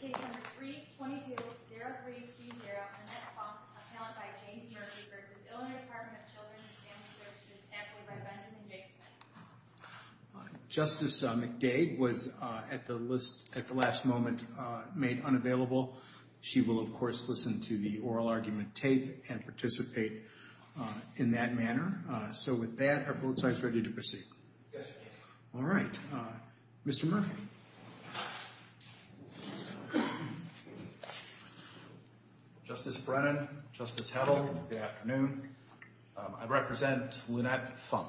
Case number 322-03-G0, Annette Fong, appellant by James Murphy v. Illinois Department of Children & Family Services, appellate by Benjamin Jacobson. Justice McDade was, at the last moment, made unavailable. She will, of course, listen to the oral argument tape and participate in that manner. So with that, are both sides ready to proceed? Yes. All right. Mr. Murphy. Justice Brennan, Justice Hedl, good afternoon. I represent Lynette Funk.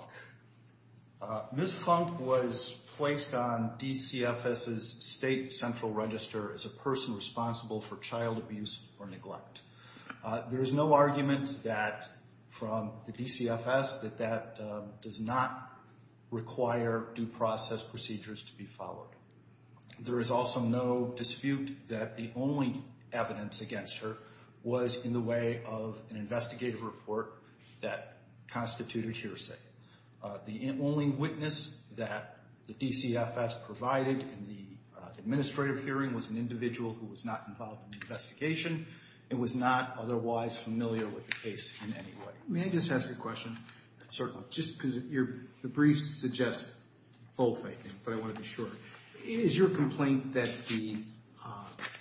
Ms. Funk was placed on DCFS's state central register as a person responsible for child abuse or neglect. There is no argument from the DCFS that that does not require due process procedures to be followed. There is also no dispute that the only evidence against her was in the way of an investigative report that constituted hearsay. The only witness that the DCFS provided in the administrative hearing was an individual who was not involved in the investigation. It was not otherwise familiar with the case in any way. May I just ask a question? Certainly. Just because the briefs suggest both, I think, but I want to be sure. Is your complaint that the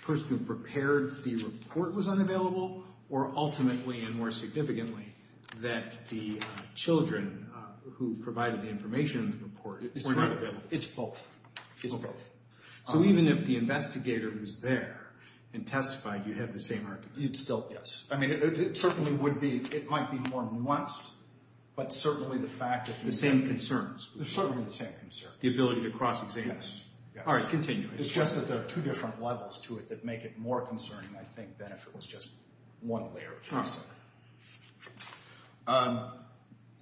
person who prepared the report was unavailable? Or ultimately, and more significantly, that the children who provided the information in the report were not available? It's both. It's both. So even if the investigator was there and testified, you'd have the same argument? You'd still, yes. I mean, it certainly would be. It might be more nuanced, but certainly the fact that... The same concerns. There's certainly the same concerns. The ability to cross-examine. Yes. All right, continue. It's just that there are two different levels to it that make it more concerning, I think, than if it was just one layer of hearsay.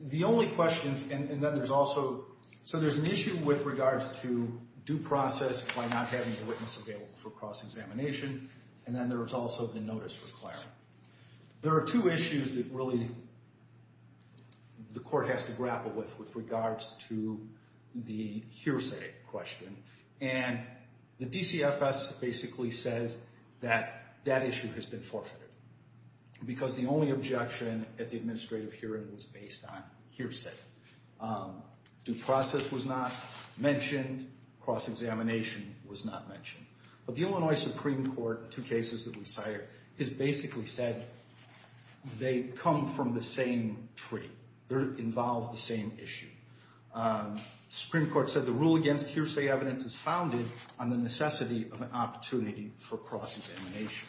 The only questions, and then there's also... So there's an issue with regards to due process by not having a witness available for cross-examination. And then there's also the notice for claring. There are two issues that really the court has to grapple with with regards to the hearsay question. And the DCFS basically says that that issue has been forfeited. Because the only objection at the administrative hearing was based on hearsay. Due process was not mentioned. Cross-examination was not mentioned. But the Illinois Supreme Court, two cases that we cited, has basically said they come from the same tree. They involve the same issue. Supreme Court said the rule against hearsay evidence is founded on the necessity of an opportunity for cross-examination.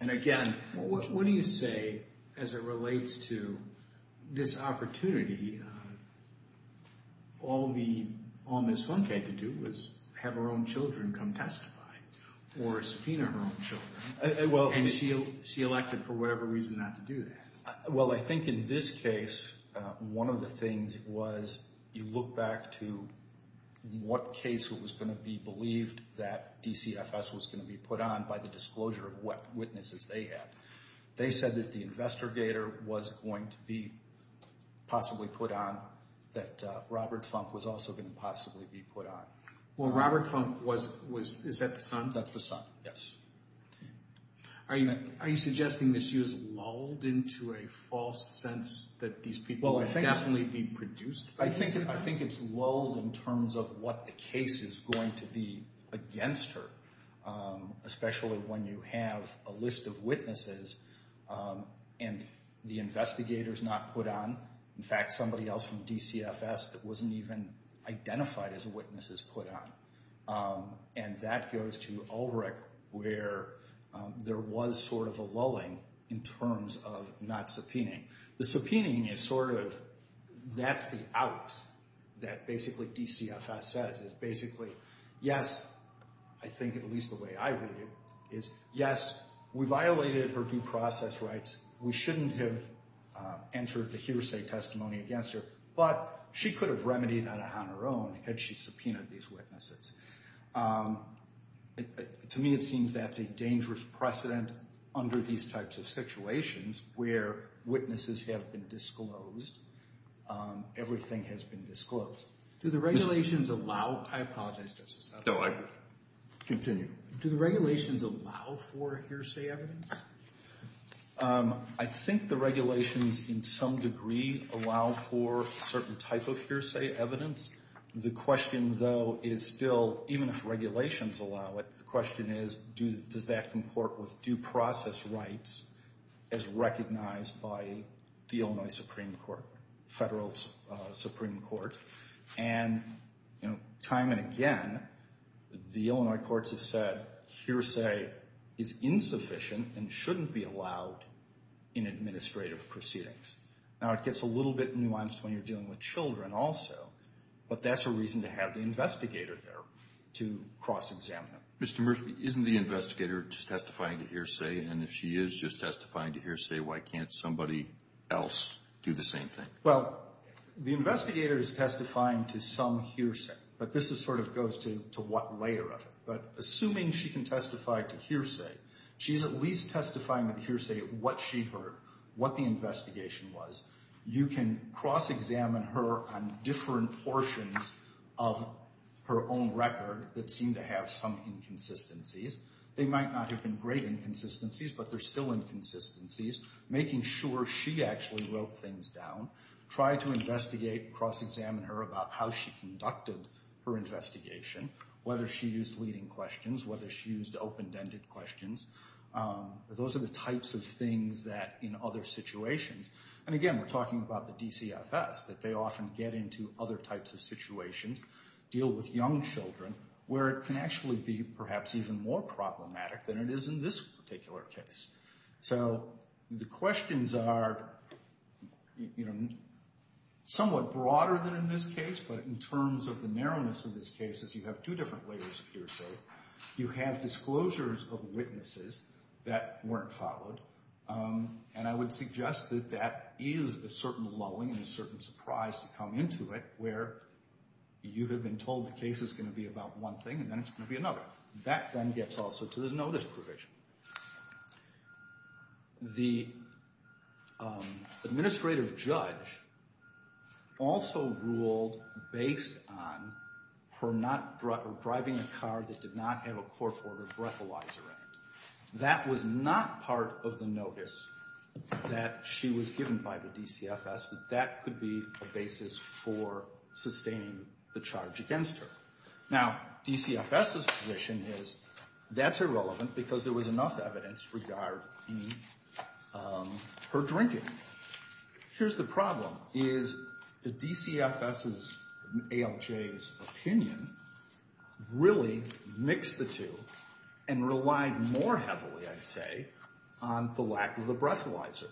And again, what do you say as it relates to this opportunity, all Ms. Funke had to do was have her own children come testify, or subpoena her own children, and she elected for whatever reason not to do that? Well, I think in this case, one of the things was you look back to what case was going to be believed that DCFS was going to be put on by the disclosure of what witnesses they had. They said that the investigator was going to be possibly put on, that Robert Funke was also going to possibly be put on. Well, Robert Funke was, is that the son? That's the son, yes. Are you suggesting that she was lulled into a false sense that these people would definitely be produced? I think it's lulled in terms of what the case is going to be against her, especially when you have a list of witnesses and the investigator is not put on. In fact, somebody else from DCFS that wasn't even identified as a witness is put on. And that goes to Ulrich, where there was sort of a lulling in terms of not subpoenaing. The subpoenaing is sort of, that's the out that basically DCFS says is basically, yes, I think at least the way I read it, is yes, we violated her due process rights. We shouldn't have entered the hearsay testimony against her. But she could have remedied that on her own had she subpoenaed these witnesses. To me, it seems that's a dangerous precedent under these types of situations where witnesses have been disclosed. Everything has been disclosed. Do the regulations allow, I apologize, Justice Huffman. No, continue. Do the regulations allow for hearsay evidence? I think the regulations in some degree allow for a certain type of hearsay evidence. The question, though, is still, even if regulations allow it, the question is, does that comport with due process rights as recognized by the Illinois Supreme Court, federal Supreme Court? And time and again, the Illinois courts have said hearsay is insufficient and shouldn't be allowed in administrative proceedings. Now, it gets a little bit nuanced when you're dealing with children also, but that's a reason to have the investigator there to cross-examine them. Mr. Murphy, isn't the investigator just testifying to hearsay? And if she is just testifying to hearsay, why can't somebody else do the same thing? Well, the investigator is testifying to some hearsay, but this sort of goes to what layer of it. But assuming she can testify to hearsay, she's at least testifying to the hearsay of what she heard, what the investigation was. You can cross-examine her on different portions of her own record that seem to have some inconsistencies. They might not have been great inconsistencies, but they're still inconsistencies. Making sure she actually wrote things down. Try to investigate, cross-examine her about how she conducted her investigation, whether she used leading questions, whether she used open-ended questions. Those are the types of things that in other situations, and again, we're talking about the DCFS, that they often get into other types of situations. Deal with young children, where it can actually be perhaps even more problematic than it is in this particular case. So the questions are somewhat broader than in this case, but in terms of the narrowness of this case is you have two different layers of hearsay. You have disclosures of witnesses that weren't followed. And I would suggest that that is a certain lulling and a certain surprise to come into it where you have been told the case is going to be about one thing and then it's going to be another. That then gets also to the notice provision. The administrative judge also ruled based on her not driving a car that did not have a corkboard or breathalyzer in it. That was not part of the notice that she was given by the DCFS, that that could be a basis for sustaining the charge against her. Now, DCFS's position is that's irrelevant because there was enough evidence regarding her drinking. Here's the problem is the DCFS's ALJ's opinion really mixed the two and relied more heavily, I'd say, on the lack of the breathalyzer.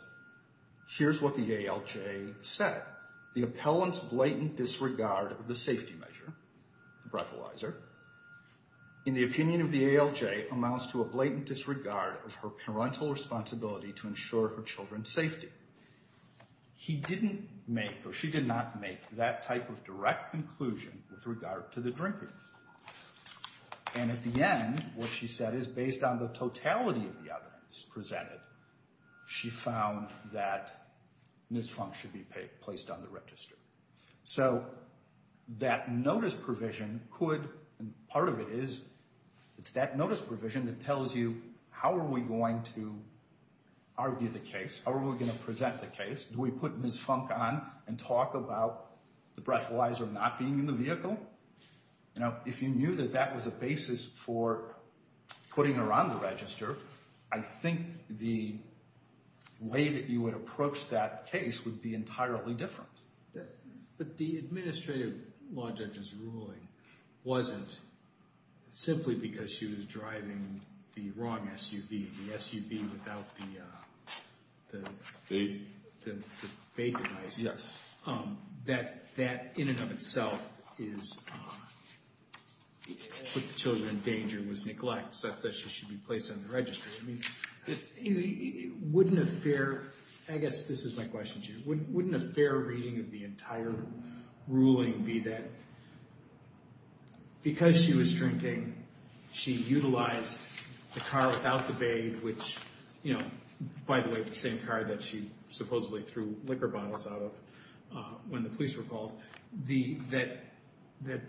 Here's what the ALJ said. The appellant's blatant disregard of the safety measure, the breathalyzer, in the opinion of the ALJ amounts to a blatant disregard of her parental responsibility to ensure her children's safety. He didn't make or she did not make that type of direct conclusion with regard to the drinker. And at the end, what she said is based on the totality of the evidence presented, she found that Ms. Funk should be placed on the register. So that notice provision could, and part of it is, it's that notice provision that tells you how are we going to argue the case, how are we going to present the case. Do we put Ms. Funk on and talk about the breathalyzer not being in the vehicle? Now, if you knew that that was a basis for putting her on the register, I think the way that you would approach that case would be entirely different. But the administrative law judge's ruling wasn't simply because she was driving the wrong SUV, the SUV without the bait device. Yes. That in and of itself is, put the children in danger, was neglect such that she should be placed on the register. Wouldn't a fair, I guess this is my question to you, wouldn't a fair reading of the entire ruling be that because she was drinking, she utilized the car without the bait, which, you know, by the way, the same car that she supposedly threw liquor bottles out of when the police were called, that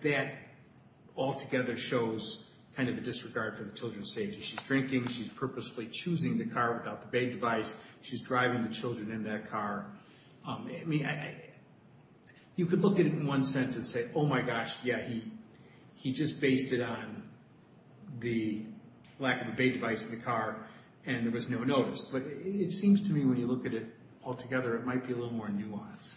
that altogether shows kind of a disregard for the children's safety. She's drinking, she's purposefully choosing the car without the bait device, she's driving the children in that car. You could look at it in one sense and say, oh my gosh, yeah, he just based it on the lack of a bait device in the car and there was no notice. But it seems to me when you look at it altogether, it might be a little more nuanced.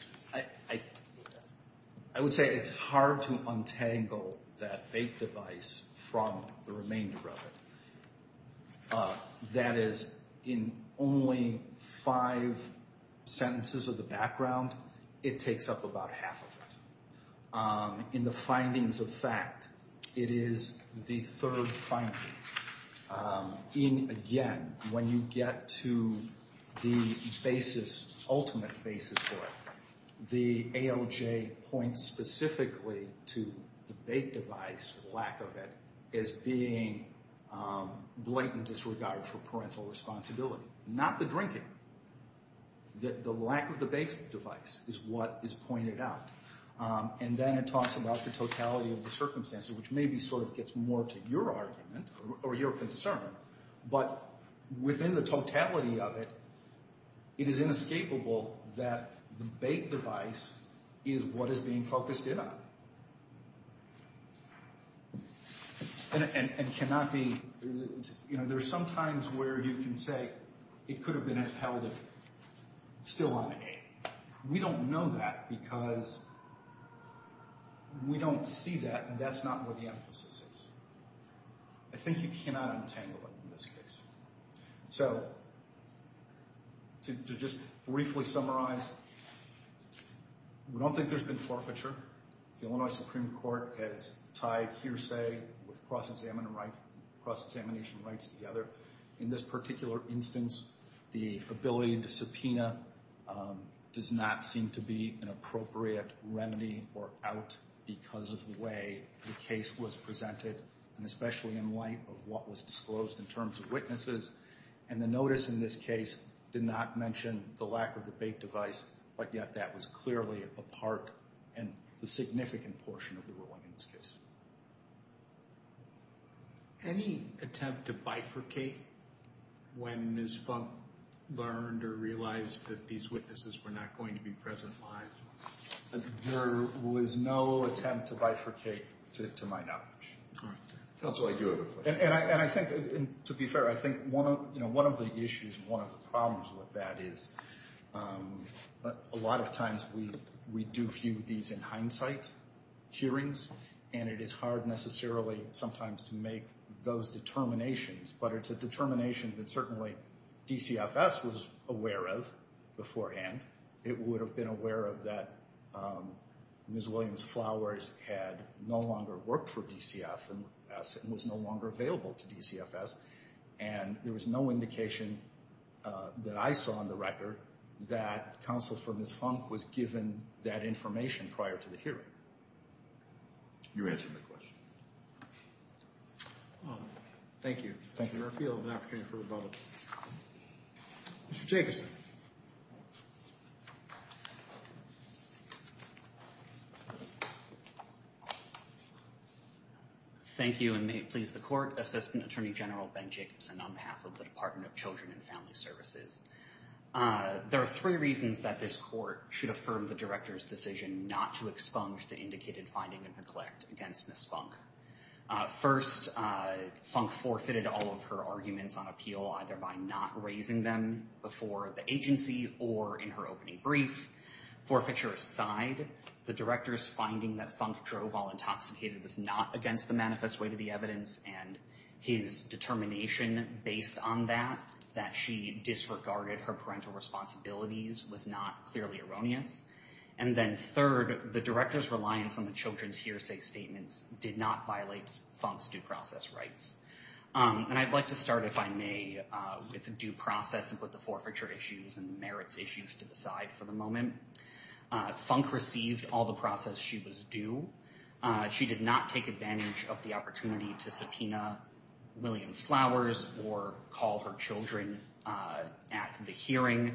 I would say it's hard to untangle that bait device from the remainder of it. That is, in only five sentences of the background, it takes up about half of it. In the findings of fact, it is the third finding. In, again, when you get to the basis, ultimate basis for it, the ALJ points specifically to the bait device, lack of it, as being blatant disregard for parental responsibility. Not the drinking. The lack of the bait device is what is pointed out. And then it talks about the totality of the circumstances, which maybe sort of gets more to your argument or your concern. But within the totality of it, it is inescapable that the bait device is what is being focused in on. And cannot be, you know, there are some times where you can say it could have been held if still on A. We don't know that because we don't see that. And that's not where the emphasis is. I think you cannot untangle it in this case. So, to just briefly summarize, we don't think there's been forfeiture. The Illinois Supreme Court has tied hearsay with cross-examination rights together. In this particular instance, the ability to subpoena does not seem to be an appropriate remedy or out because of the way the case was presented. And especially in light of what was disclosed in terms of witnesses. And the notice in this case did not mention the lack of the bait device, but yet that was clearly a part and a significant portion of the ruling in this case. Any attempt to bifurcate when Ms. Funk learned or realized that these witnesses were not going to be present live? There was no attempt to bifurcate to my knowledge. Counsel, I do have a question. And I think, to be fair, I think one of the issues, one of the problems with that is a lot of times we do view these in hindsight hearings. And it is hard necessarily sometimes to make those determinations. But it's a determination that certainly DCFS was aware of beforehand. It would have been aware of that Ms. Williams Flowers had no longer worked for DCFS and was no longer available to DCFS. And there was no indication that I saw on the record that counsel for Ms. Funk was given that information prior to the hearing. You answered my question. Thank you. Mr. Murphy, I'll have an opportunity for rebuttal. Mr. Jacobson. Thank you and may it please the court. Assistant Attorney General Ben Jacobson on behalf of the Department of Children and Family Services. There are three reasons that this court should affirm the director's decision not to expunge the indicated finding and neglect against Ms. Funk. First, Funk forfeited all of her arguments on appeal either by not raising them before the agency or in her opening brief. Forfeiture aside, the director's finding that Funk drove while intoxicated was not against the manifest way to the evidence. And his determination based on that, that she disregarded her parental responsibilities was not clearly erroneous. And then third, the director's reliance on the children's hearsay statements did not violate Funk's due process rights. And I'd like to start, if I may, with the due process and put the forfeiture issues and the merits issues to the side for the moment. Funk received all the process she was due. She did not take advantage of the opportunity to subpoena Williams' flowers or call her children at the hearing,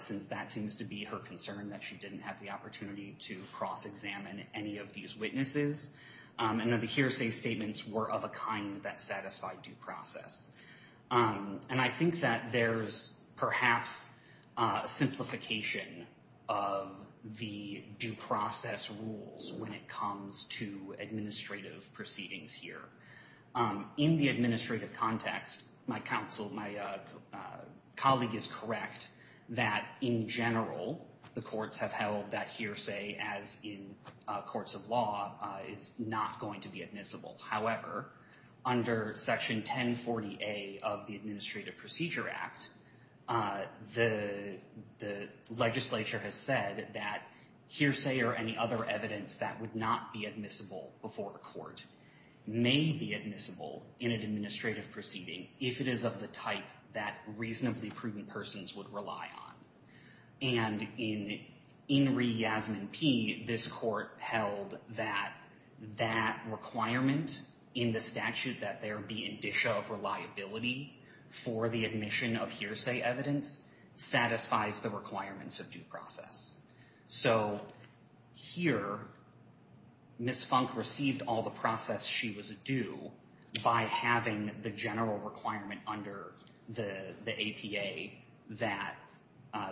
since that seems to be her concern that she didn't have the opportunity to cross-examine any of these witnesses. And that the hearsay statements were of a kind that satisfied due process. And I think that there's perhaps a simplification of the due process rules when it comes to administrative proceedings here. In the administrative context, my colleague is correct that in general, the courts have held that hearsay as in courts of law is not going to be admissible. However, under Section 1040A of the Administrative Procedure Act, the legislature has said that hearsay or any other evidence that would not be admissible before a court may be admissible in an administrative proceeding if it is of the type that reasonably prudent persons would rely on. And in re-Yasmin P, this court held that that requirement in the statute that there be indicia of reliability for the admission of hearsay evidence satisfies the requirements of due process. So here, Ms. Funk received all the process she was due by having the general requirement under the APA that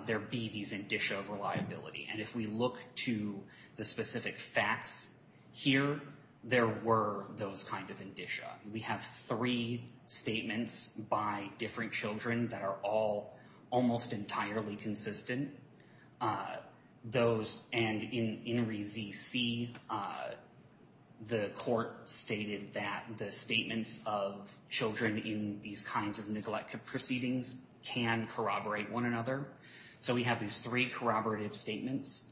there be these indicia of reliability. And if we look to the specific facts here, there were those kind of indicia. We have three statements by different children that are all almost entirely consistent. Those, and in re-ZC, the court stated that the statements of children in these kinds of neglect proceedings can corroborate one another. So we have these three corroborative statements.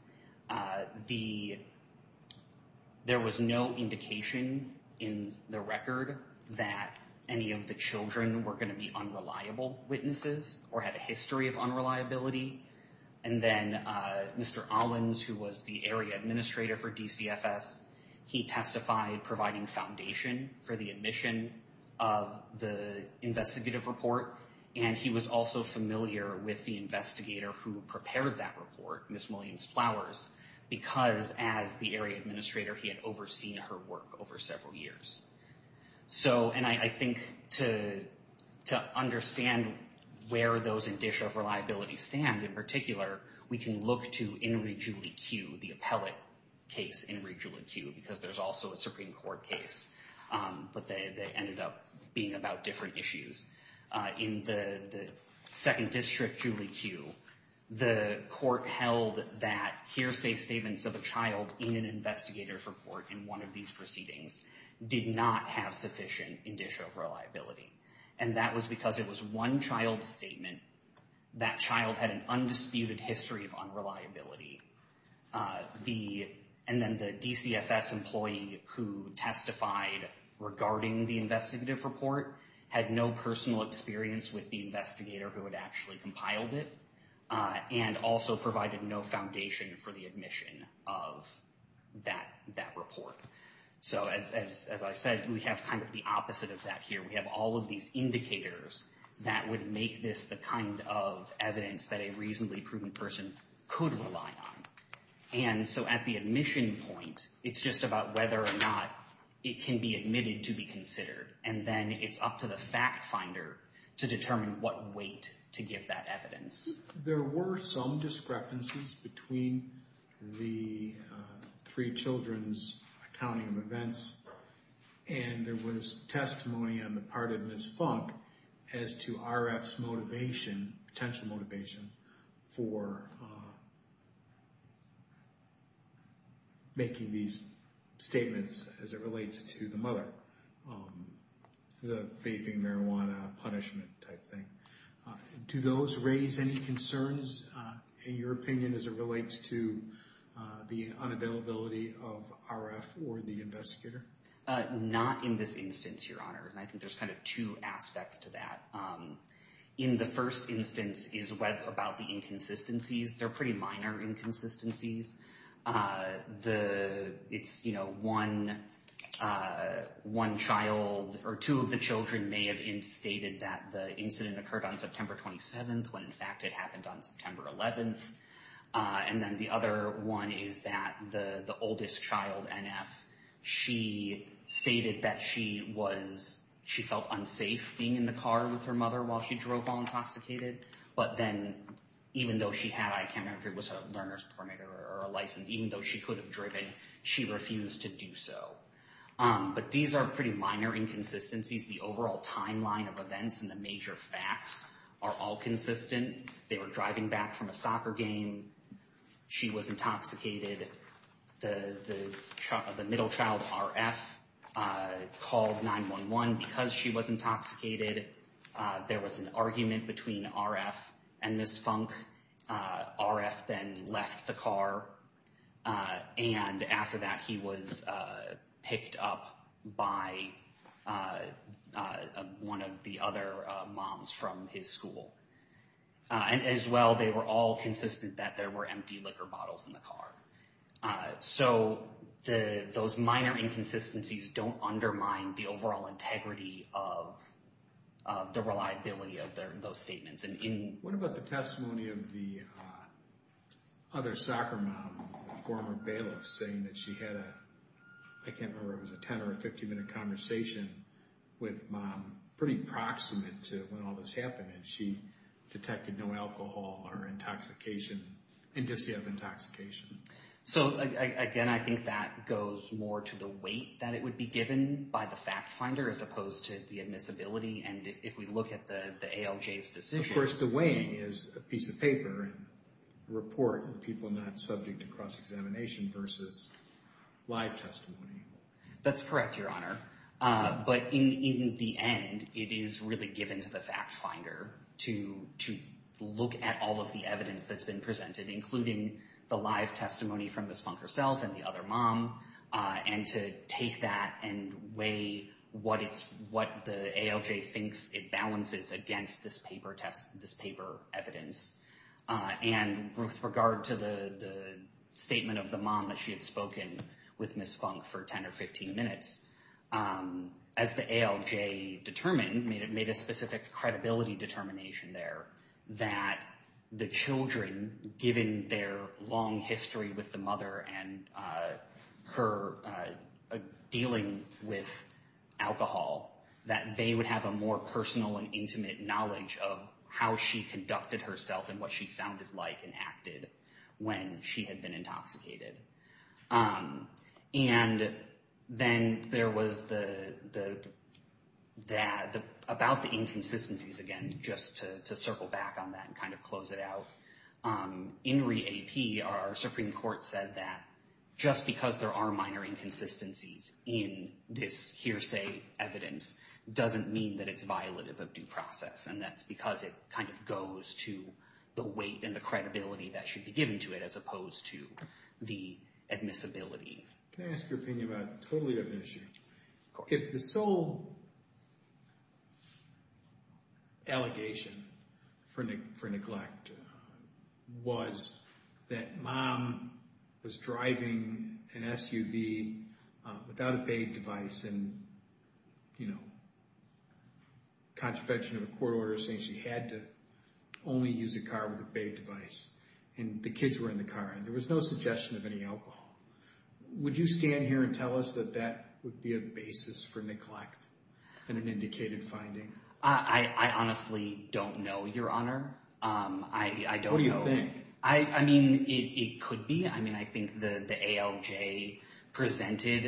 There was no indication in the record that any of the children were going to be unreliable witnesses or had a history of unreliability. And then Mr. Owens, who was the area administrator for DCFS, he testified providing foundation for the admission of the investigative report. And he was also familiar with the investigator who prepared that report, Ms. Williams-Flowers, because as the area administrator, he had overseen her work over several years. So, and I think to understand where those indicia of reliability stand, in particular, we can look to In re. Julie Q, the appellate case in re. Julie Q, because there's also a Supreme Court case, but they ended up being about different issues. In the second district, Julie Q, the court held that hearsay statements of a child in an investigator's report in one of these proceedings did not have sufficient indicia of reliability. And that was because it was one child's statement. That child had an undisputed history of unreliability. The, and then the DCFS employee who testified regarding the investigative report had no personal experience with the investigator who had actually compiled it and also provided no foundation for the admission of that report. So as I said, we have kind of the opposite of that here. We have all of these indicators that would make this the kind of evidence that a reasonably prudent person could rely on. And so at the admission point, it's just about whether or not it can be admitted to be considered. And then it's up to the fact finder to determine what weight to give that evidence. There were some discrepancies between the three children's accounting of events. And there was testimony on the part of Ms. Funk as to RF's motivation, potential motivation for making these statements as it relates to the mother. The vaping, marijuana, punishment type thing. Do those raise any concerns in your opinion as it relates to the unavailability of RF or the investigator? Not in this instance, Your Honor. And I think there's kind of two aspects to that. In the first instance is about the inconsistencies. They're pretty minor inconsistencies. One child or two of the children may have stated that the incident occurred on September 27th when in fact it happened on September 11th. And then the other one is that the oldest child, NF, she stated that she felt unsafe being in the car with her mother while she drove while intoxicated. But then even though she had, I can't remember if it was a learner's permit or a license, even though she could have driven, she refused to do so. But these are pretty minor inconsistencies. The overall timeline of events and the major facts are all consistent. They were driving back from a soccer game. She was intoxicated. The middle child, RF, called 911 because she was intoxicated. There was an argument between RF and Ms. Funk. RF then left the car. And after that, he was picked up by one of the other moms from his school. And as well, they were all consistent that there were empty liquor bottles in the car. So those minor inconsistencies don't undermine the overall integrity of the reliability of those statements. What about the testimony of the other soccer mom, the former bailiff, saying that she had a, I can't remember if it was a 10- or 15-minute conversation with mom, pretty proximate to when all this happened, and she detected no alcohol or intoxication, indicia of intoxication? So, again, I think that goes more to the weight that it would be given by the fact finder as opposed to the admissibility. And if we look at the ALJ's decision— Of course, the weighing is a piece of paper, a report, and people not subject to cross-examination versus live testimony. That's correct, Your Honor. But in the end, it is really given to the fact finder to look at all of the evidence that's been presented, including the live testimony from Ms. Funk herself and the other mom, and to take that and weigh what the ALJ thinks it balances against this paper evidence. And with regard to the statement of the mom that she had spoken with Ms. Funk for 10 or 15 minutes, as the ALJ determined, made a specific credibility determination there, that the children, given their long history with the mother and her dealing with alcohol, that they would have a more personal and intimate knowledge of how she conducted herself and what she sounded like and acted when she had been intoxicated. And then there was the—about the inconsistencies again, just to circle back on that and kind of close it out. In re-AP, our Supreme Court said that just because there are minor inconsistencies in this hearsay evidence doesn't mean that it's violative of due process, and that's because it kind of goes to the weight and the credibility that should be given to it as opposed to the admissibility. Can I ask your opinion about a totally different issue? Of course. If the sole allegation for neglect was that mom was driving an SUV without a paid device and, you know, contravention of a court order saying she had to only use a car with a paid device, and the kids were in the car and there was no suggestion of any alcohol, would you stand here and tell us that that would be a basis for neglect and an indicated finding? I honestly don't know, Your Honor. I don't know. What do you think? I mean, it could be. I mean, I think the ALJ presented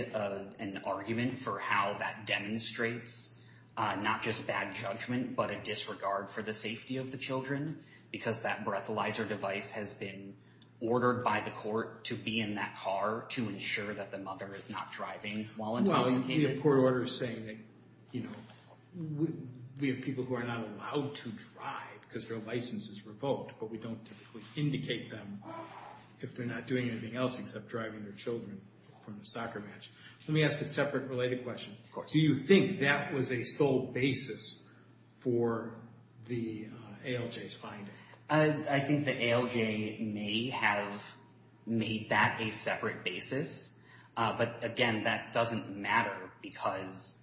an argument for how that demonstrates not just bad judgment but a disregard for the safety of the children because that breathalyzer device has been ordered by the court to be in that car to ensure that the mother is not driving while intoxicated. Well, the court order is saying that, you know, we have people who are not allowed to drive because their license is revoked, but we don't typically indicate them if they're not doing anything else except driving their children from the soccer match. Let me ask a separate related question. Of course. Do you think that was a sole basis for the ALJ's finding? I think the ALJ may have made that a separate basis, but again, that doesn't matter because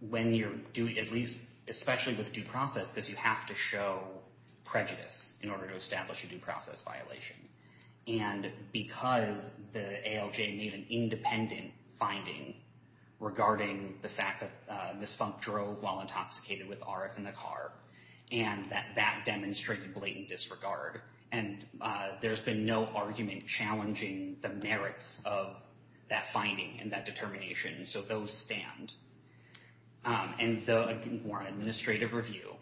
when you're doing, at least especially with due process because you have to show prejudice in order to establish a due process violation, and because the ALJ made an independent finding regarding the fact that Ms. Funk drove while intoxicated with RF in the car and that that demonstrated blatant disregard, and there's been no argument challenging the merits of that finding and that determination, so those stand. And the more administrative review,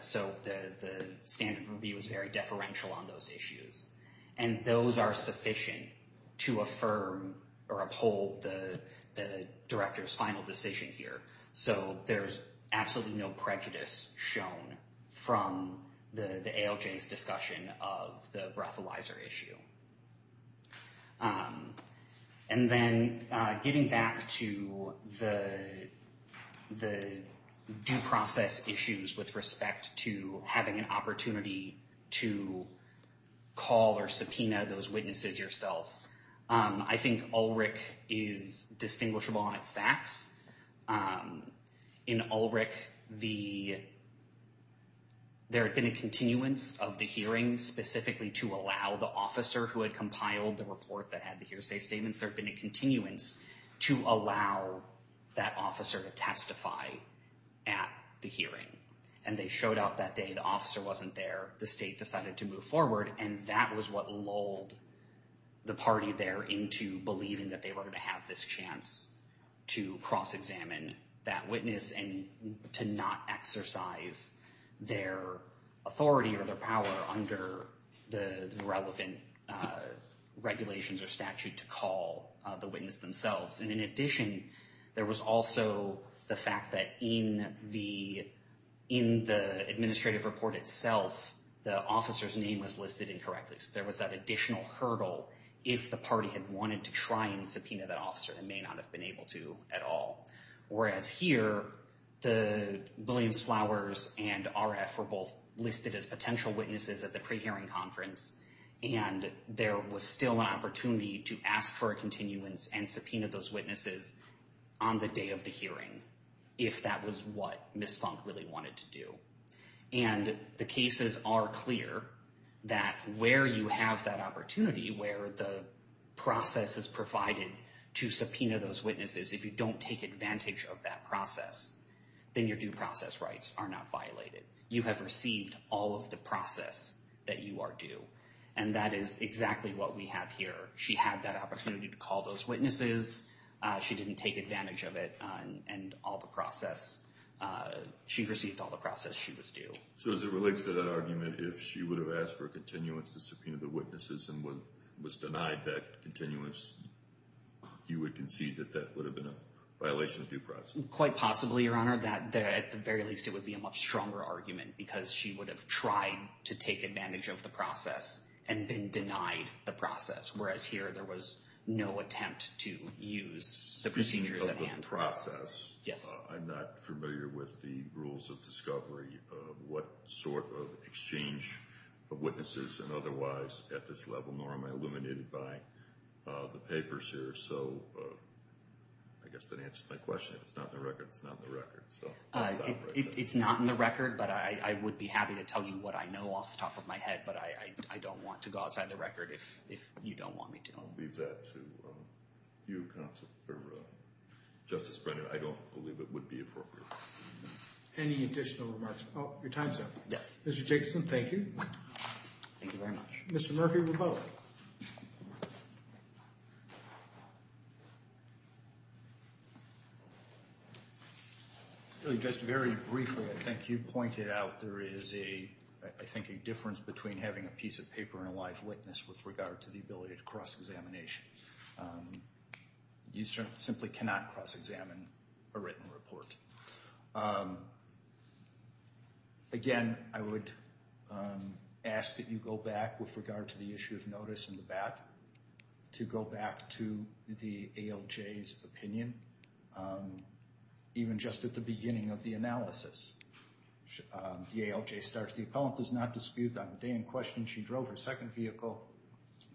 so the standard review is very deferential on those issues, and those are sufficient to affirm or uphold the director's final decision here. So there's absolutely no prejudice shown from the ALJ's discussion of the breathalyzer issue. And then getting back to the due process issues with respect to having an opportunity to call or subpoena those witnesses yourself. I think ULRIC is distinguishable on its facts. In ULRIC, there had been a continuance of the hearing specifically to allow the officer who had compiled the report that had the hearsay statements, there had been a continuance to allow that officer to testify at the hearing. And they showed up that day, the officer wasn't there, the state decided to move forward, and that was what lulled the party there into believing that they were going to have this chance to cross-examine that witness and to not exercise their authority or their power under the relevant regulations or statute to call the witness themselves. And in addition, there was also the fact that in the administrative report itself, the officer's name was listed incorrectly. So there was that additional hurdle if the party had wanted to try and subpoena that officer and may not have been able to at all. Whereas here, the Williams-Flowers and RF were both listed as potential witnesses at the pre-hearing conference, and there was still an opportunity to ask for a continuance and subpoena those witnesses on the day of the hearing if that was what Ms. Funk really wanted to do. And the cases are clear that where you have that opportunity, where the process is provided to subpoena those witnesses, if you don't take advantage of that process, then your due process rights are not violated. You have received all of the process that you are due and that is exactly what we have here. She had that opportunity to call those witnesses. She didn't take advantage of it, and she received all the process she was due. So as it relates to that argument, if she would have asked for a continuance to subpoena the witnesses and was denied that continuance, you would concede that that would have been a violation of due process? Quite possibly, Your Honor. At the very least, it would be a much stronger argument because she would have tried to take advantage of the process and been denied the process, whereas here there was no attempt to use the procedures at hand. Speaking of the process, Yes. I'm not familiar with the rules of discovery of what sort of exchange of witnesses and otherwise at this level, nor am I illuminated by the papers here. So I guess that answers my question. If it's not in the record, it's not in the record. It's not in the record, but I would be happy to tell you what I know off the top of my head, but I don't want to go outside the record if you don't want me to. I'll leave that to you, Counsel, or Justice Brennan. I don't believe it would be appropriate. Any additional remarks? Oh, your time's up. Yes. Mr. Jacobson, thank you. Thank you very much. Mr. Murphy, we're both. Just very briefly, I think you pointed out there is, I think, a difference between having a piece of paper and a live witness with regard to the ability to cross-examination. You simply cannot cross-examine a written report. Again, I would ask that you go back with regard to the issue of notice in the back to go back to the ALJ's opinion, even just at the beginning of the analysis. The ALJ starts, the appellant does not dispute that on the day in question she drove her second vehicle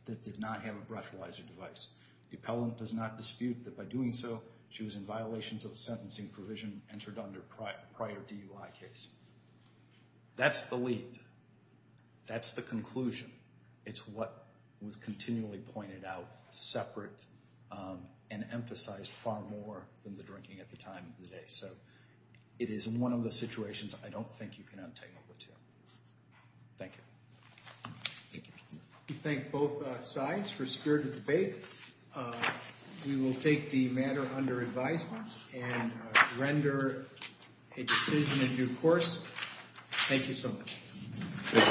that did not have a breathalyzer device. The appellant does not dispute that by doing so, she was in violations of a sentencing provision entered under a prior DUI case. That's the lead. That's the conclusion. It's what was continually pointed out, separate, and emphasized far more than the drinking at the time of the day. It is one of the situations I don't think you can untangle the two. Thank you. We thank both sides for a spirit of debate. We will take the matter under advisement and render a decision in due course. Thank you so much.